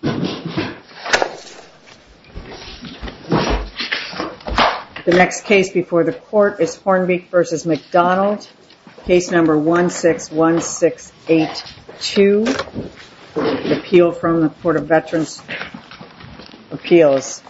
161682 Appeal from the Port of Veterans Appeals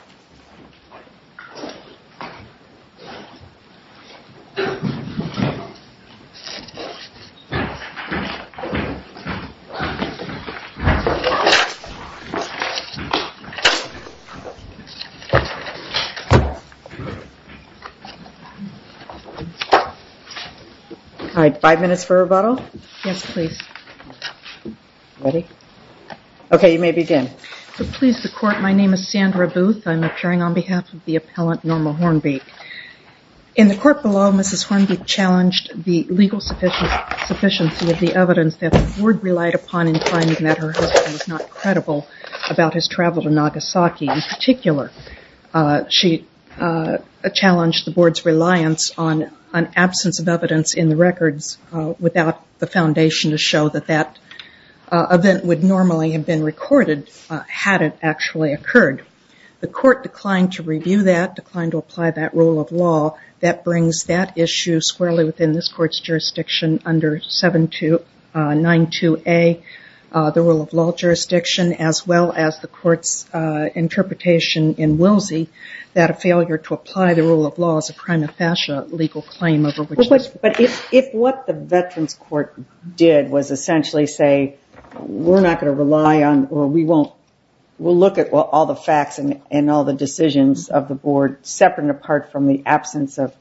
All right five minutes for rebuttal yes, please Ready, okay, you may begin, so please the court. My name is Sandra Booth. I'm appearing on behalf of the appellant normal Hornby In the court below mrs. Hornby challenged the legal sufficient Sufficiency of the evidence that the board relied upon in finding that her husband was not credible about his travel to Nagasaki in particular Challenged the board's reliance on an absence of evidence in the records without the foundation to show that that Event would normally have been recorded Had it actually occurred the court declined to review that declined to apply that rule of law that brings that issue squarely within this court's jurisdiction under 7292 a the rule of law jurisdiction as well as the court's Interpretation in Willsie that a failure to apply the rule of law as a crime of fascia legal claim over which but if if what? Veterans court did was essentially say We're not going to rely on or we won't we'll look at what all the facts and and all the decisions of the board separate and apart from the absence of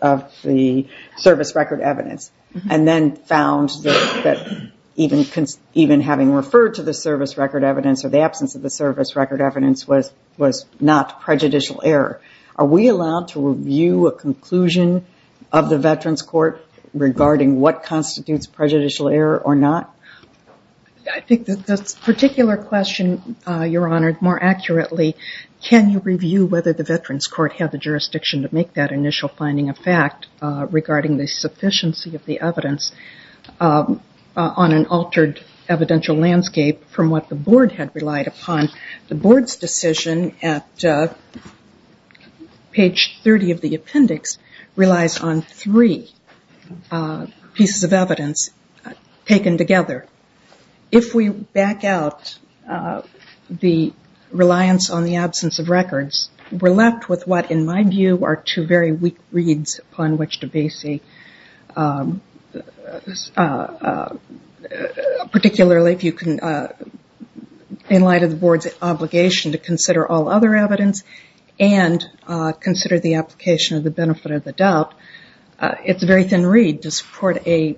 of the service record evidence and then found That even can even having referred to the service record evidence or the absence of the service record evidence was was not Prejudicial error are we allowed to review a conclusion of the veterans court? Regarding what constitutes prejudicial error or not? I? Think that this particular question your honor more accurately Can you review whether the veterans court have the jurisdiction to make that initial finding a fact regarding the sufficiency of the evidence? on an altered evidential landscape from what the board had relied upon the board's decision at Page 30 of the appendix relies on three pieces of evidence Taken together if we back out The reliance on the absence of records were left with what in my view are two very weak reads upon which to be see Particularly if you can in light of the board's obligation to consider all other evidence and Consider the application of the benefit of the doubt It's a very thin read to support a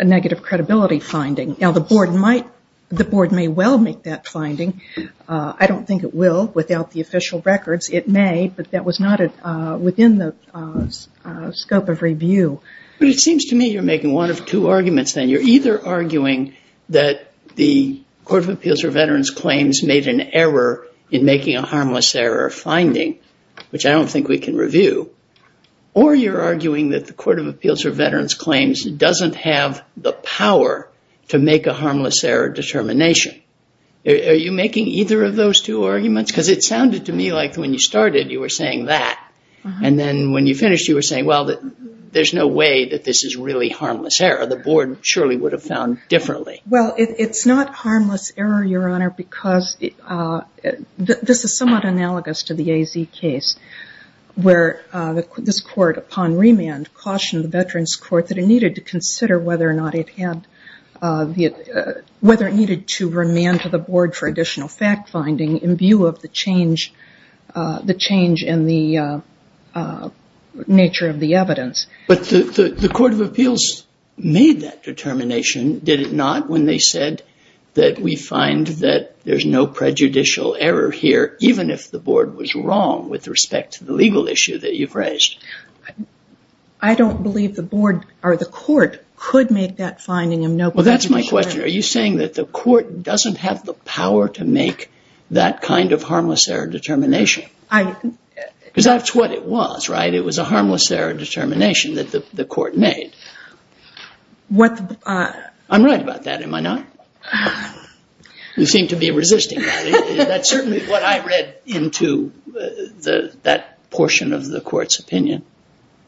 Negative credibility finding now the board might the board may well make that finding I don't think it will without the official records it may but that was not it within the Scope of review, but it seems to me you're making one of two arguments then you're either arguing that The Court of Appeals or veterans claims made an error in making a harmless error finding which I don't think we can review Or you're arguing that the Court of Appeals or veterans claims doesn't have the power to make a harmless error determination Are you making either of those two arguments because it sounded to me like when you started you were saying that And then when you finished you were saying well that there's no way that this is really harmless error The board surely would have found differently. Well, it's not harmless error your honor because This is somewhat analogous to the AZ case Where this court upon remand cautioned the Veterans Court that it needed to consider whether or not it had The whether it needed to remand to the board for additional fact-finding in view of the change the change in the Nature of the evidence, but the the Court of Appeals Made that determination did it not when they said that we find that there's no prejudicial error here Even if the board was wrong with respect to the legal issue that you've raised. I Don't believe the board or the court could make that finding him. No. Well, that's my question Are you saying that the court doesn't have the power to make that kind of harmless error determination? I Because that's what it was, right? It was a harmless error determination that the court made What I'm right about that. Am I not? You seem to be resisting Into The that portion of the courts opinion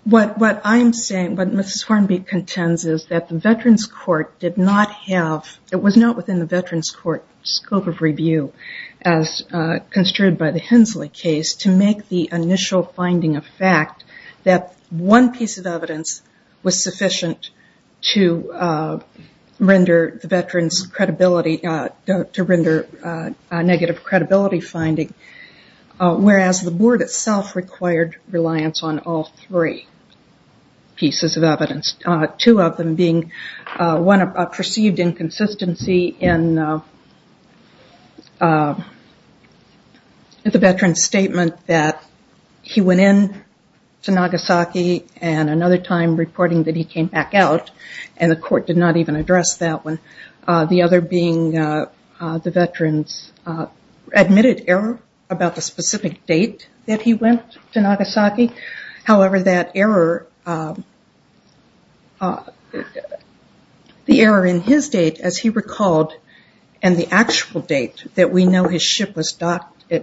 what what I'm saying but mrs. Hornby contends is that the Veterans Court did not have it was not within the Veterans Court scope of review as construed by the Hensley case to make the initial finding of fact that one piece of evidence was sufficient to Render the veterans credibility to render a negative credibility finding Whereas the board itself required reliance on all three pieces of evidence two of them being one of perceived inconsistency in The veteran statement that he went in To Nagasaki and another time reporting that he came back out and the court did not even address that one the other being the veterans Admitted error about the specific date that he went to Nagasaki. However that error The error in his date as he recalled and the actual date that we know his ship was docked at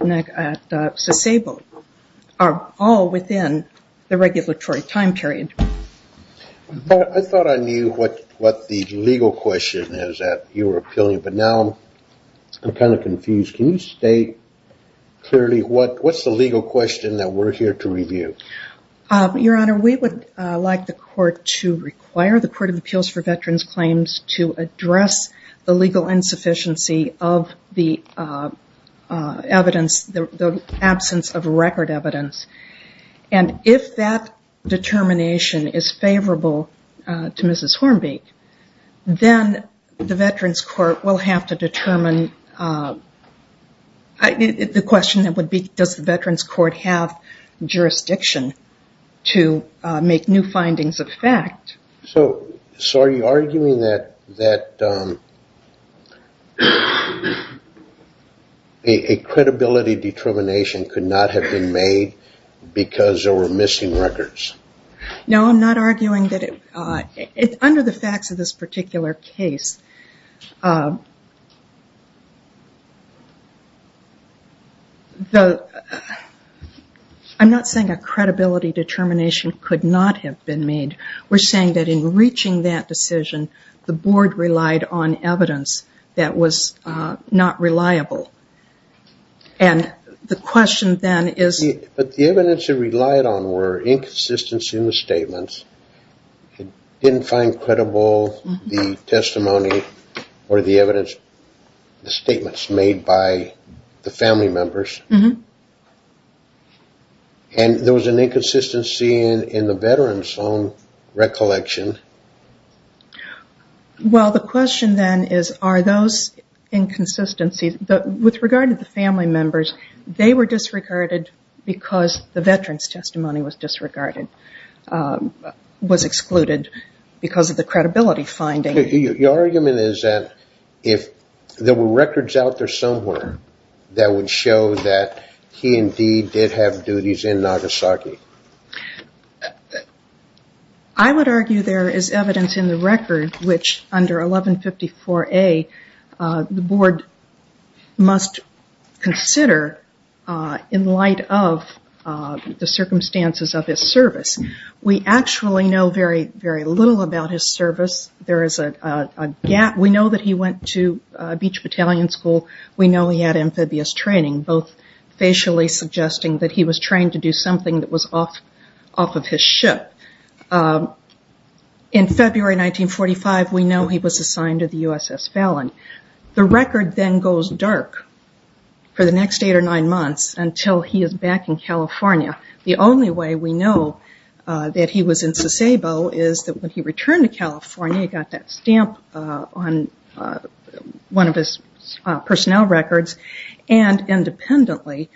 Disabled are all within the regulatory time period But I thought I knew what what the legal question is that you were appealing, but now I'm kind of confused. Can you state? Clearly what what's the legal question that we're here to review? Your honor. We would like the court to require the Court of Appeals for veterans claims to address the legal insufficiency of the Evidence the absence of record evidence and if that Determination is favorable to mrs. Hornby Then the Veterans Court will have to determine The question that would be does the Veterans Court have jurisdiction to Make new findings of fact. So so are you arguing that that? A credibility determination could not have been made Because there were missing records No, I'm not arguing that it under the facts of this particular case The I'm not saying a credibility determination could not have been made We're saying that in reaching that decision the board relied on evidence that was not reliable and The question then is but the evidence it relied on were inconsistency in the statements It didn't find credible the testimony or the evidence statements made by the family members And there was an inconsistency in in the veterans own recollection Well, the question then is are those Inconsistencies but with regard to the family members they were disregarded because the veterans testimony was disregarded was excluded because of the credibility finding your argument is that if There were records out there somewhere that would show that he indeed did have duties in Nagasaki. I Would argue there is evidence in the record which under 1154 a board must consider in light of The circumstances of his service. We actually know very very little about his service. There is a Gap, we know that he went to a beach battalion school. We know he had amphibious training both Facially suggesting that he was trained to do something that was off off of his ship in February 1945 we know he was assigned to the USS Fallon the record then goes dark For the next eight or nine months until he is back in California. The only way we know that he was in Sasebo is that when he returned to California got that stamp on one of his personnel records and independently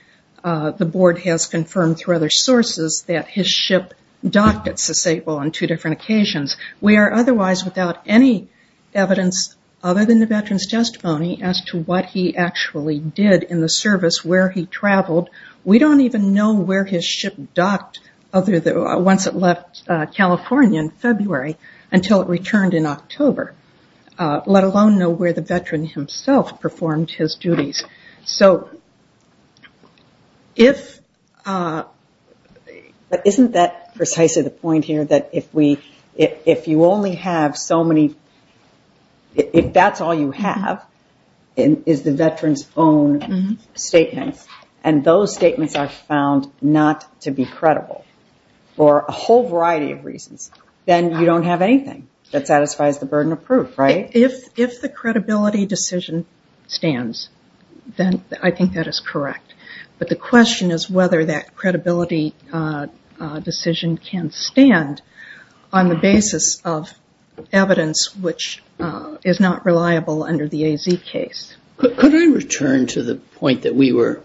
The board has confirmed through other sources that his ship docked at Sasebo on two different occasions We are otherwise without any Evidence other than the veterans testimony as to what he actually did in the service where he traveled We don't even know where his ship docked other than once it left California in February until it returned in October Let alone know where the veteran himself performed his duties. So If But isn't that precisely the point here that if we if you only have so many If that's all you have in is the veterans own Statements and those statements are found not to be credible For a whole variety of reasons then you don't have anything that satisfies the burden of proof, right? If if the credibility decision stands then I think that is correct But the question is whether that credibility Decision can stand on the basis of Evidence, which is not reliable under the AZ case Could I return to the point that we were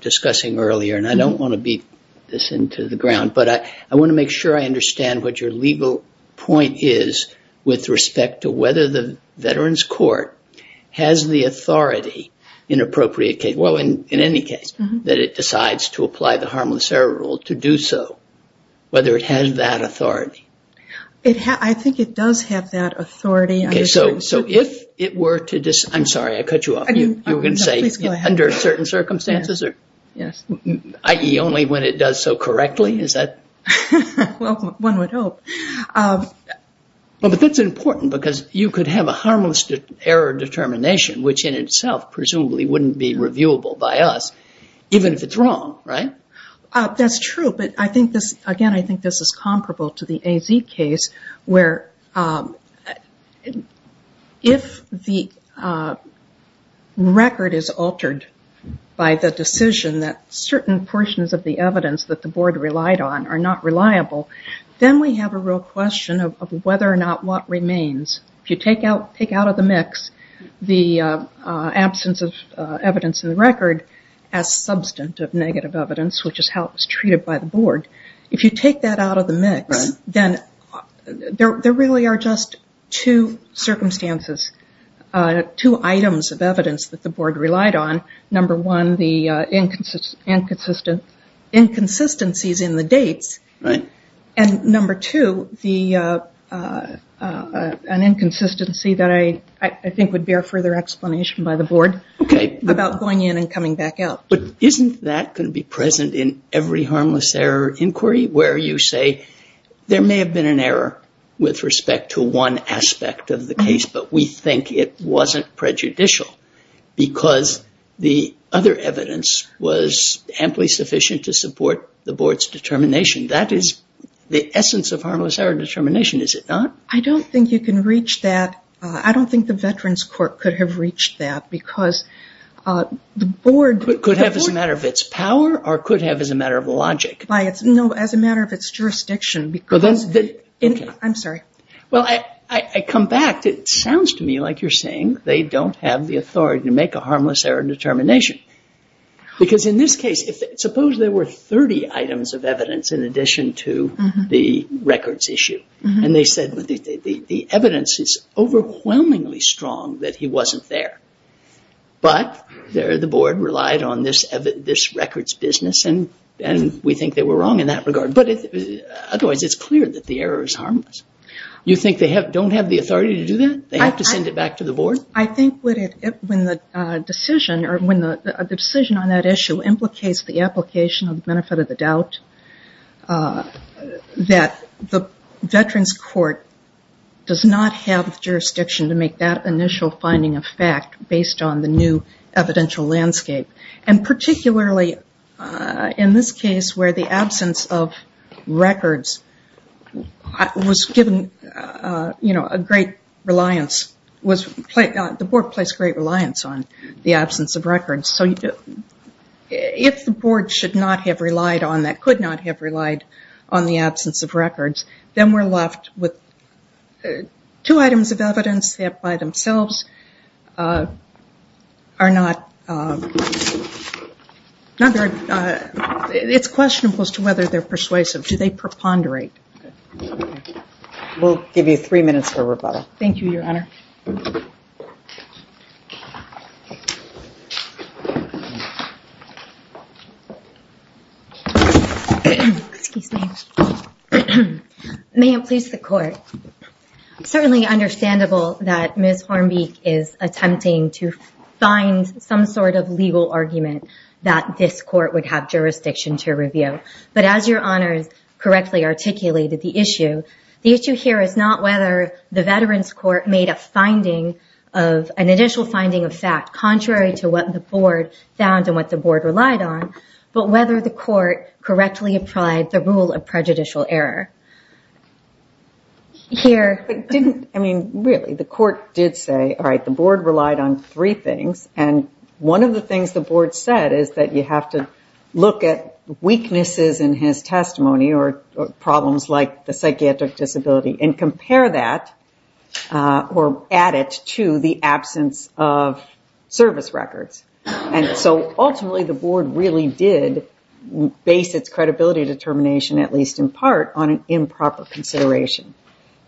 discussing earlier and I don't want to beat this into the ground But I I want to make sure I understand what your legal point is with respect to whether the veterans court Has the authority in appropriate case? Well in in any case that it decides to apply the harmless error rule to do so Whether it has that authority It has I think it does have that authority. Okay, so so if it were to just I'm sorry I cut you off you you're gonna say under certain circumstances or yes. Ie only when it does so correctly is that one would hope Well, but that's important because you could have a harmless error determination Which in itself presumably wouldn't be reviewable by us even if it's wrong, right? That's true. But I think this again. I think this is comparable to the AZ case where If the Record is altered By the decision that certain portions of the evidence that the board relied on are not reliable Then we have a real question of whether or not what remains if you take out take out of the mix the absence of evidence in the record as Substantive negative evidence, which is how it was treated by the board if you take that out of the mix then There there really are just two circumstances two items of evidence that the board relied on number one the inconsistent inconsistencies in the dates right and number two the An inconsistency that I I think would bear further explanation by the board Okay about going in and coming back out But isn't that going to be present in every harmless error inquiry where you say? There may have been an error with respect to one aspect of the case, but we think it wasn't prejudicial Because the other evidence was amply sufficient to support the board's determination That is the essence of harmless error determination. Is it not? I don't think you can reach that I don't think the Veterans Court could have reached that because The board could have as a matter of its power or could have as a matter of logic by it's no as a matter of its Jurisdiction because that's it. I'm sorry. Well, I I come back. It sounds to me like you're saying They don't have the authority to make a harmless error determination Because in this case if suppose there were 30 items of evidence in addition to the records issue and they said But the evidence is Overwhelmingly strong that he wasn't there but there the board relied on this of this records business and and we think they were wrong in that regard, but Otherwise, it's clear that the error is harmless You think they have don't have the authority to do that. They have to send it back to the board I think when the decision or when the decision on that issue implicates the application of the benefit of the doubt That the Veterans Court Does not have the jurisdiction to make that initial finding of fact based on the new evidential landscape and particularly in this case where the absence of records was given You know a great reliance was played out the board placed great reliance on the absence of records so you do If the board should not have relied on that could not have relied on the absence of records then we're left with two items of evidence that by themselves Are not Number it's questionable as to whether they're persuasive do they preponderate? We'll give you three minutes for rebuttal. Thank you your honor May it please the court Certainly understandable that miss Hornby is attempting to find some sort of legal argument that this court would have Articulated the issue the issue here is not whether the Veterans Court made a finding of An initial finding of fact contrary to what the board found and what the board relied on But whether the court correctly applied the rule of prejudicial error Here I mean really the court did say all right the board relied on three things and one of the things the board said is that you have to look at Weaknesses in his testimony or problems like the psychiatric disability and compare that or add it to the absence of service records and so ultimately the board really did Base its credibility determination at least in part on an improper consideration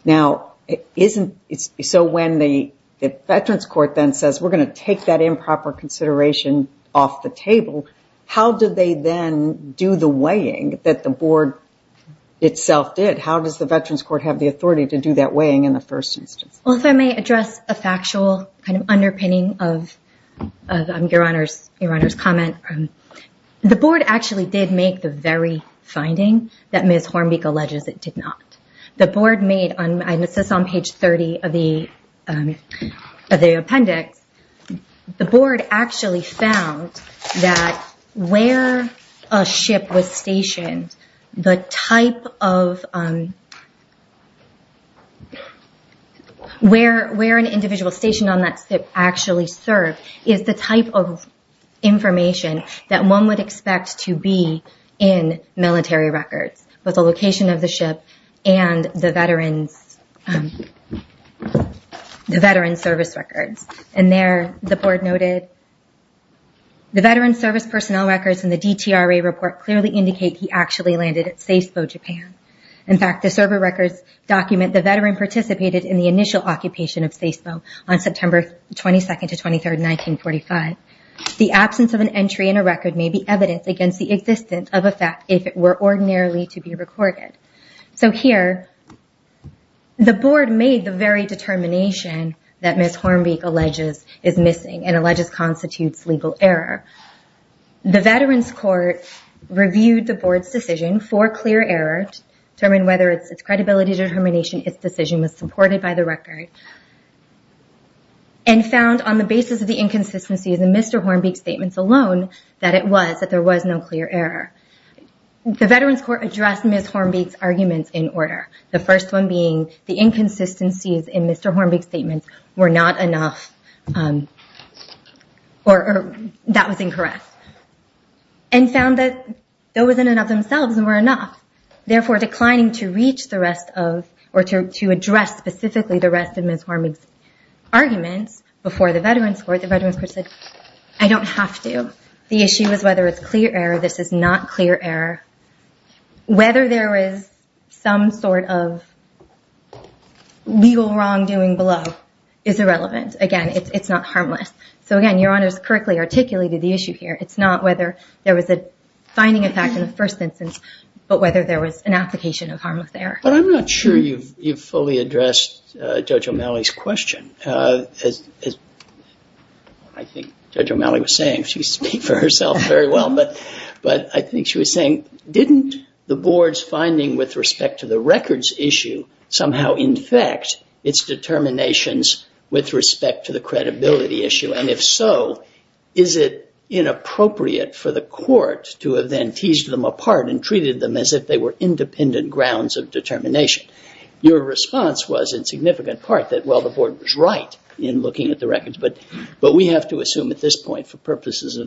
Now it isn't it's so when the Veterans Court then says we're going to take that improper consideration Off the table. How did they then do the weighing that the board? Itself did how does the Veterans Court have the authority to do that weighing in the first instance? well, if I may address a factual kind of underpinning of Your honors your honors comment The board actually did make the very finding that miss Hornby colleges it did not the board made on my missus on page 30 of the the appendix The board actually found that where a ship was stationed the type of Where where an individual stationed on that ship actually served is the type of information that one would expect to be in military records with the location of the ship and the veterans The Veterans service records and there the board noted The veterans service personnel records and the DTRA report clearly indicate he actually landed at Sasebo, Japan In fact the server records document the veteran participated in the initial occupation of Sasebo on September 22nd to 23rd 1945 The absence of an entry in a record may be evidence against the existence of a fact if it were ordinarily to be recorded so here The board made the very determination that miss Hornby colleges is missing and alleges constitutes legal error the veterans court Reviewed the board's decision for clear errors determine whether it's its credibility determination. Its decision was supported by the record and Found on the basis of the inconsistency of the mr. Hornby statements alone that it was that there was no clear error The veterans court addressed miss Hornby's arguments in order the first one being the inconsistencies in mr. Hornby statements were not enough Or that was incorrect and Found that there wasn't enough themselves and were enough Therefore declining to reach the rest of or to address specifically the rest of miss Hornby's Arguments before the veterans court the veterans person. I don't have to the issue is whether it's clear error This is not clear error whether there is some sort of Legal wrongdoing below is irrelevant again, it's not harmless. So again, your honor's correctly articulated the issue here It's not whether there was a finding a fact in the first instance, but whether there was an application of harmless there But I'm not sure you've you've fully addressed judge O'Malley's question as I Think she was saying didn't the board's finding with respect to the records issue somehow in fact its determinations with respect to the credibility issue and if so, is it Inappropriate for the court to have then teased them apart and treated them as if they were independent grounds of determination Your response was in significant part that well the board was right in looking at the records but but we have to assume at this point for purposes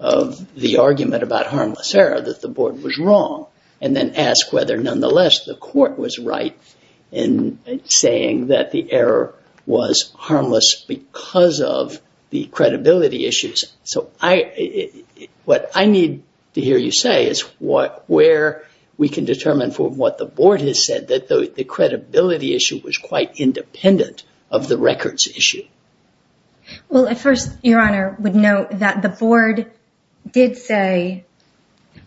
of The argument about harmless error that the board was wrong and then ask whether nonetheless the court was right in saying that the error was harmless because of the credibility issues, so I what I need to hear you say is what where we can determine for what the board has said that the Credibility issue was quite independent of the records issue Well at first your honor would note that the board did say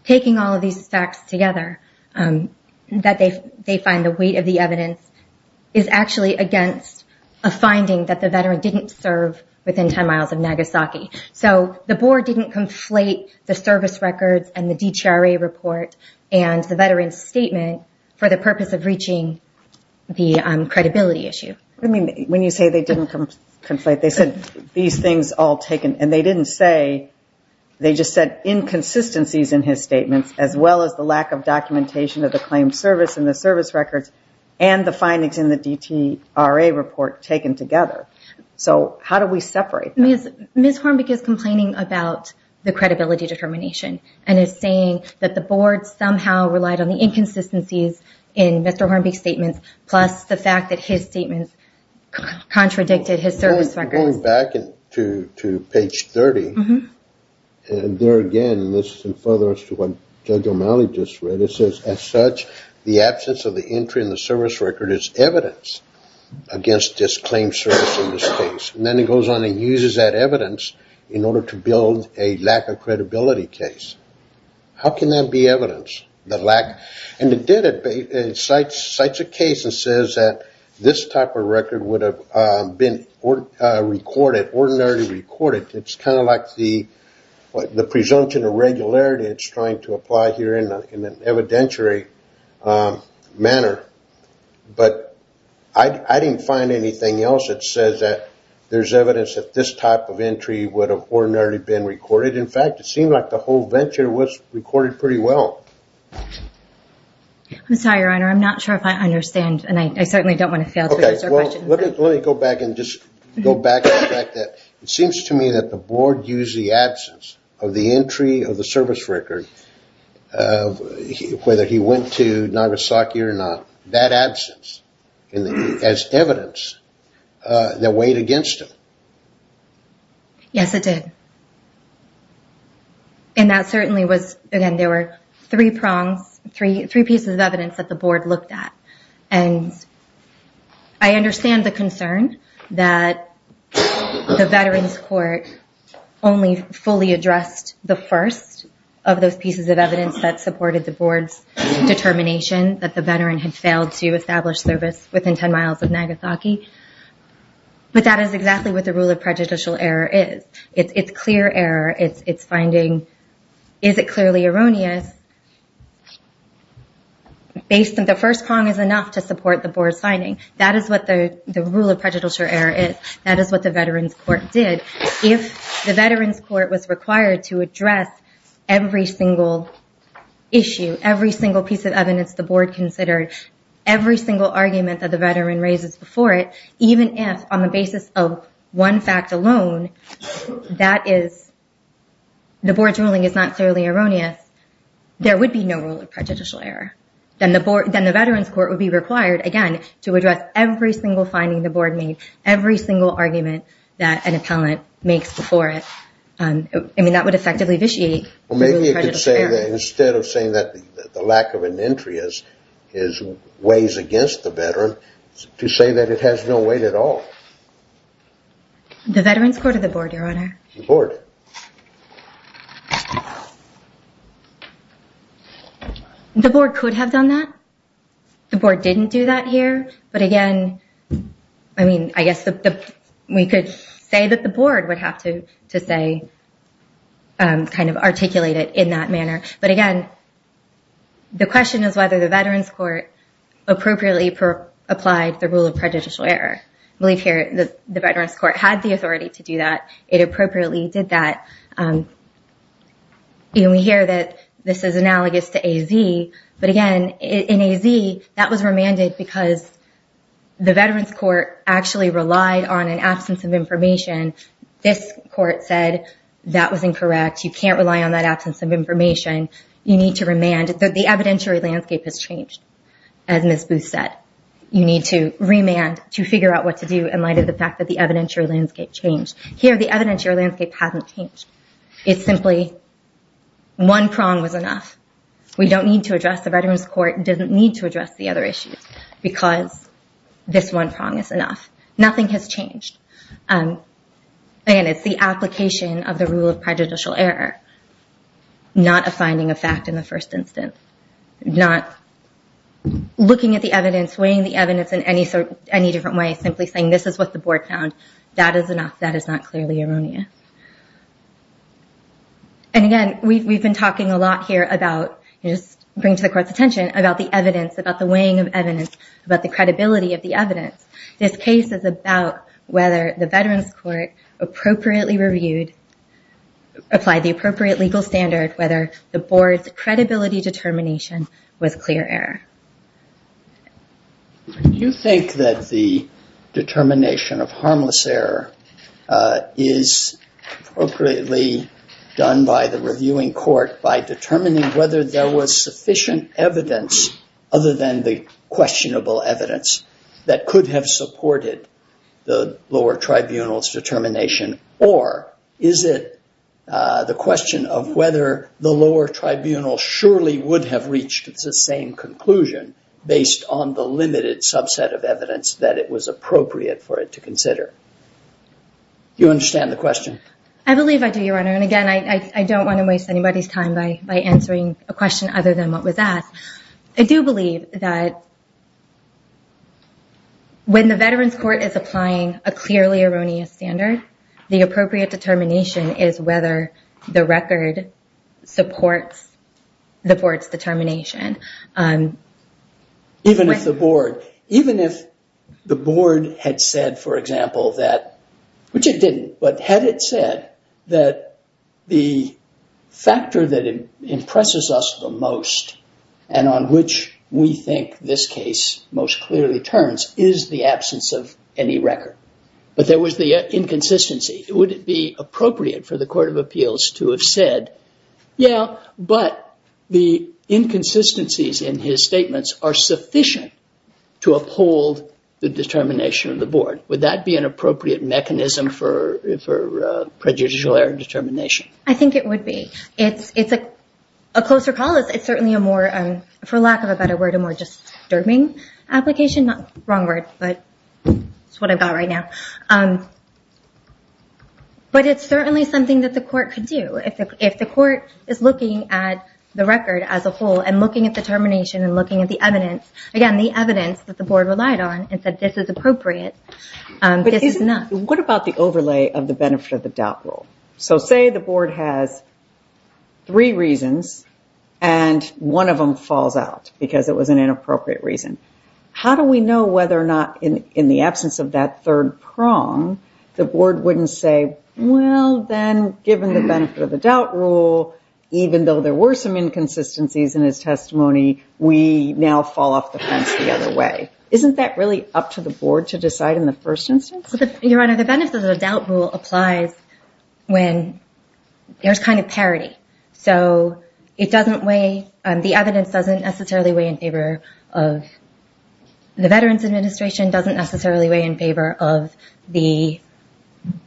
Taking all of these facts together that they they find the weight of the evidence is Actually against a finding that the veteran didn't serve within 10 miles of Nagasaki so the board didn't conflate the service records and the DTRA report and the veterans statement for the purpose of reaching The credibility issue, I mean when you say they didn't come conflate they said these things all taken and they didn't say They just said inconsistencies in his statements as well as the lack of documentation of the claim service and the service records and the Findings in the DTRA report taken together. So how do we separate miss miss Horn? Because complaining about the credibility determination and is saying that the board somehow relied on the inconsistencies in Mr. Hornby statements plus the fact that his statements contradicted his service records. Going back to to page 30 And there again this is in further as to what Judge O'Malley just read it says as such the absence of the entry in the service record is evidence Against this claim service in this case and then it goes on and uses that evidence in order to build a lack of credibility case How can that be evidence that lack and it did it Cites a case and says that this type of record would have been Recorded ordinarily recorded. It's kind of like the What the presumption of regularity it's trying to apply here in an evidentiary manner but I Didn't find anything else that says that there's evidence that this type of entry would have ordinarily been recorded In fact, it seemed like the whole venture was recorded pretty well I'm sorry, your honor. I'm not sure if I understand and I certainly don't want to fail Let me go back and just go back that it seems to me that the board used the absence of the entry of the service record Whether he went to Nagasaki or not that absence and as evidence that weighed against him Yes, it did And that certainly was again there were three prongs three three pieces of evidence that the board looked at and I understand the concern that the veterans court Only fully addressed the first of those pieces of evidence that supported the board's Determination that the veteran had failed to establish service within 10 miles of Nagasaki But that is exactly what the rule of prejudicial error is it's it's clear error it's it's finding is it clearly erroneous Based on the first prong is enough to support the board signing that is what the rule of prejudicial error is That is what the veterans court did if the veterans court was required to address every single Issue every single piece of evidence the board considered Every single argument that the veteran raises before it even if on the basis of one fact alone that is The board's ruling is not clearly erroneous There would be no rule of prejudicial error Then the board then the veterans court would be required again to address every single finding the board made every single argument That an appellant makes before it and I mean that would effectively vitiate Maybe you could say that instead of saying that the lack of an entry is his ways against the veteran To say that it has no weight at all The veterans court of the board your honor the board The board could have done that The board didn't do that here. But again, I Mean, I guess that we could say that the board would have to to say And kind of articulate it in that manner, but again The question is whether the veterans court Appropriately per applied the rule of prejudicial error. I believe here the veterans court had the authority to do that. It appropriately did that Even we hear that this is analogous to AZ but again in AZ that was remanded because The veterans court actually relied on an absence of information This court said that was incorrect you can't rely on that absence of information You need to remand that the evidentiary landscape has changed as miss booth said You need to remand to figure out what to do in light of the fact that the evidentiary landscape changed here the evidentiary landscape Hasn't changed. It's simply One prong was enough. We don't need to address the veterans court doesn't need to address the other issues because This one prong is enough. Nothing has changed And Again, it's the application of the rule of prejudicial error Not a finding of fact in the first instance not Looking at the evidence weighing the evidence in any sort any different way simply saying this is what the board found That is enough. That is not clearly erroneous And again We've been talking a lot here about Just bring to the court's attention about the evidence about the weighing of evidence about the credibility of the evidence This case is about whether the veterans court appropriately reviewed Applied the appropriate legal standard whether the board's credibility determination was clear error You think that the determination of harmless error is appropriately done by the reviewing court by determining whether there was sufficient evidence other than the Supported the lower tribunals determination or is it The question of whether the lower tribunal surely would have reached the same Conclusion based on the limited subset of evidence that it was appropriate for it to consider You understand the question. I believe I do your honor and again I don't want to waste anybody's time by by answering a question other than what was asked. I do believe that When The veterans court is applying a clearly erroneous standard the appropriate determination is whether the record supports the board's determination Even if the board even if the board had said for example that which it didn't but had it said that the Factor that Impresses us the most and on which we think this case most clearly turns is the absence of any record But there was the inconsistency. Would it be appropriate for the Court of Appeals to have said? yeah, but the Inconsistencies in his statements are sufficient to uphold the determination of the board. Would that be an appropriate mechanism for? Prejudicial error determination, I think it would be it's it's a a closer call It's it's certainly a more and for lack of a better word a more just serving application not wrong word, but It's what I've got right now. Um But it's certainly something that the court could do if the court is looking at The record as a whole and looking at the termination and looking at the evidence again the evidence that the board relied on and said This is appropriate This is not what about the overlay of the benefit of the doubt rule so say the board has three reasons and One of them falls out because it was an inappropriate reason How do we know whether or not in in the absence of that third prong the board wouldn't say? Well, then given the benefit of the doubt rule Even though there were some inconsistencies in his testimony We now fall off the fence the other way isn't that really up to the board to decide in the first instance but your honor the benefit of the doubt rule applies when There's kind of parity. So it doesn't weigh and the evidence doesn't necessarily weigh in favor of the Veterans Administration doesn't necessarily weigh in favor of the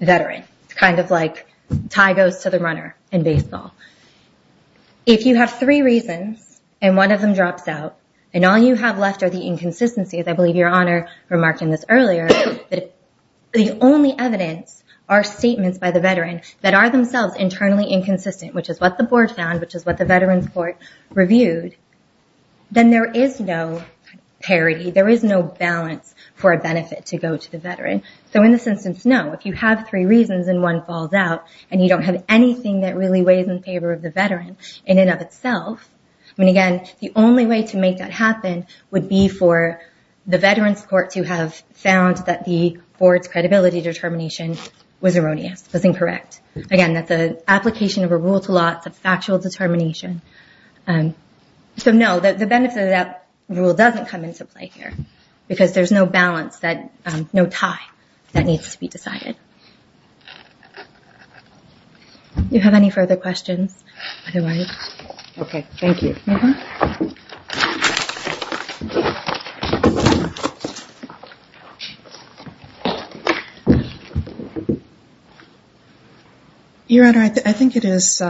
Veteran it's kind of like tie goes to the runner in baseball If you have three reasons and one of them drops out and all you have left are the inconsistencies I believe your honor remarked in this earlier The only evidence are statements by the veteran that are themselves internally inconsistent, which is what the board found Which is what the veterans court reviewed? Then there is no Parity there is no balance for a benefit to go to the veteran So in this instance No, if you have three reasons and one falls out and you don't have anything that really weighs in favor of the veteran in and of Itself. I mean again, the only way to make that happen would be for the veterans court to have found that the board's credibility Determination was erroneous was incorrect again that the application of a rule to lots of factual determination So know that the benefit of that rule doesn't come into play here because there's no balance that no tie That needs to be decided You have any further questions Your honor I think it is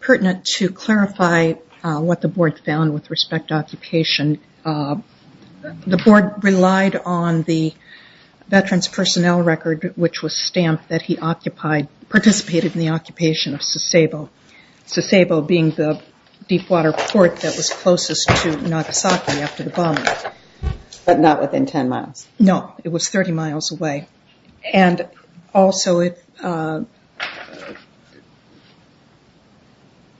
Pertinent to clarify what the board found with respect occupation the board relied on the Veterans personnel record which was stamped that he occupied Participated in the occupation of Sasebo Sasebo being the deepwater port that was closest to Nagasaki after the bomb But not within 10 miles. No, it was 30 miles away and also it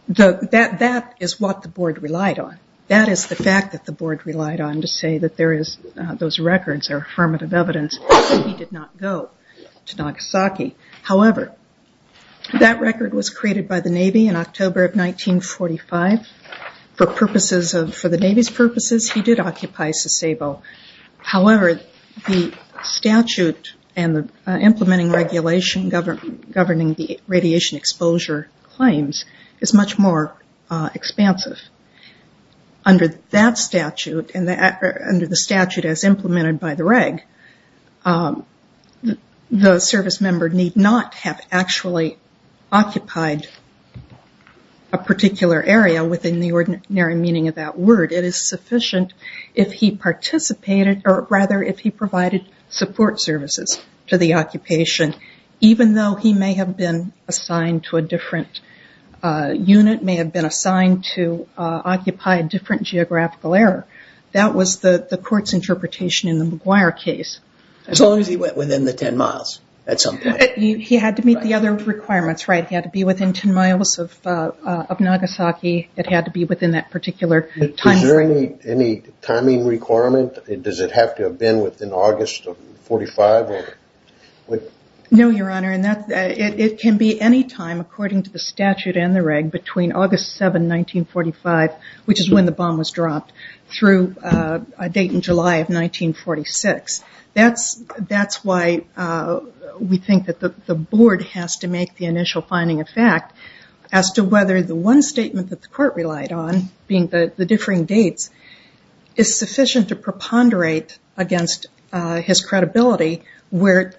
The that that is what the board relied on that is the fact that the board relied on to say that there is Those records are affirmative evidence. He did not go to Nagasaki. However that record was created by the Navy in October of 1945 For purposes of for the Navy's purposes. He did occupy Sasebo however, the statute and the implementing regulation government governing the radiation exposure claims is much more expansive Under that statute and that under the statute as implemented by the reg The service member need not have actually occupied a Particular area within the ordinary meaning of that word it is sufficient if he Participated or rather if he provided support services to the occupation, even though he may have been assigned to a different Unit may have been assigned to Occupy a different geographical error. That was the the court's interpretation in the McGuire case As long as he went within the 10 miles at some point he had to meet the other requirements, right? He had to be within 10 miles of of Nagasaki. It had to be within that particular time There any timing requirement? It does it have to have been within August of 45? What no your honor and that it can be any time according to the statute and the reg between August 7 1945 which is when the bomb was dropped through a date in July of 1946 that's that's why We think that the the board has to make the initial finding of fact As to whether the one statement that the court relied on being the the differing dates Is sufficient to preponderate? Against his credibility where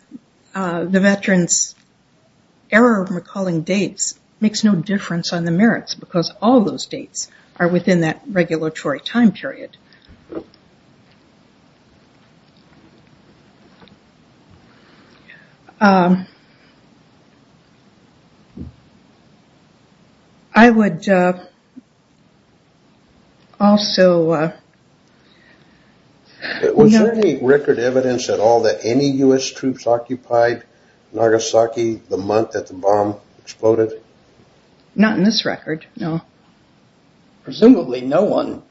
the veterans Error of recalling dates makes no difference on the merits because all those dates are within that regulatory time period I Would Also It Was a record evidence at all that any u.s. Troops occupied Nagasaki the month that the bomb exploded Not in this record. No Presumably no one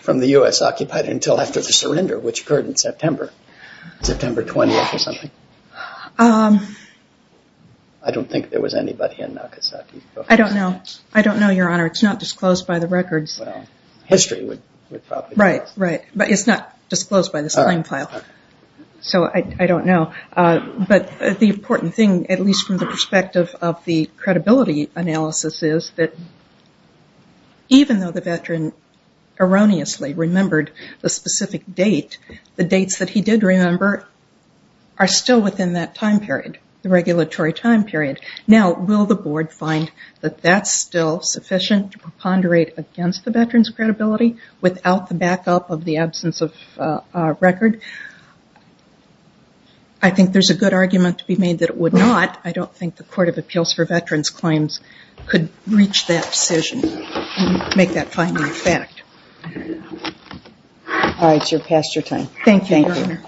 from the u.s. Occupied until after the surrender which occurred in September September 20th or something I Don't think there was anybody in Nagasaki. I don't know. I don't know your honor. It's not disclosed by the records History would right right, but it's not disclosed by this time file So I don't know but the important thing at least from the perspective of the credibility analysis is that? Even though the veteran Erroneously remembered the specific date the dates that he did remember Are still within that time period the regulatory time period now will the board find that that's still Sufficient to preponderate against the veterans credibility without the backup of the absence of record I Think there's a good argument to be made that it would not I don't think the Court of Appeals for veterans claims Could reach that decision Make that final effect All right, you're past your time, thank you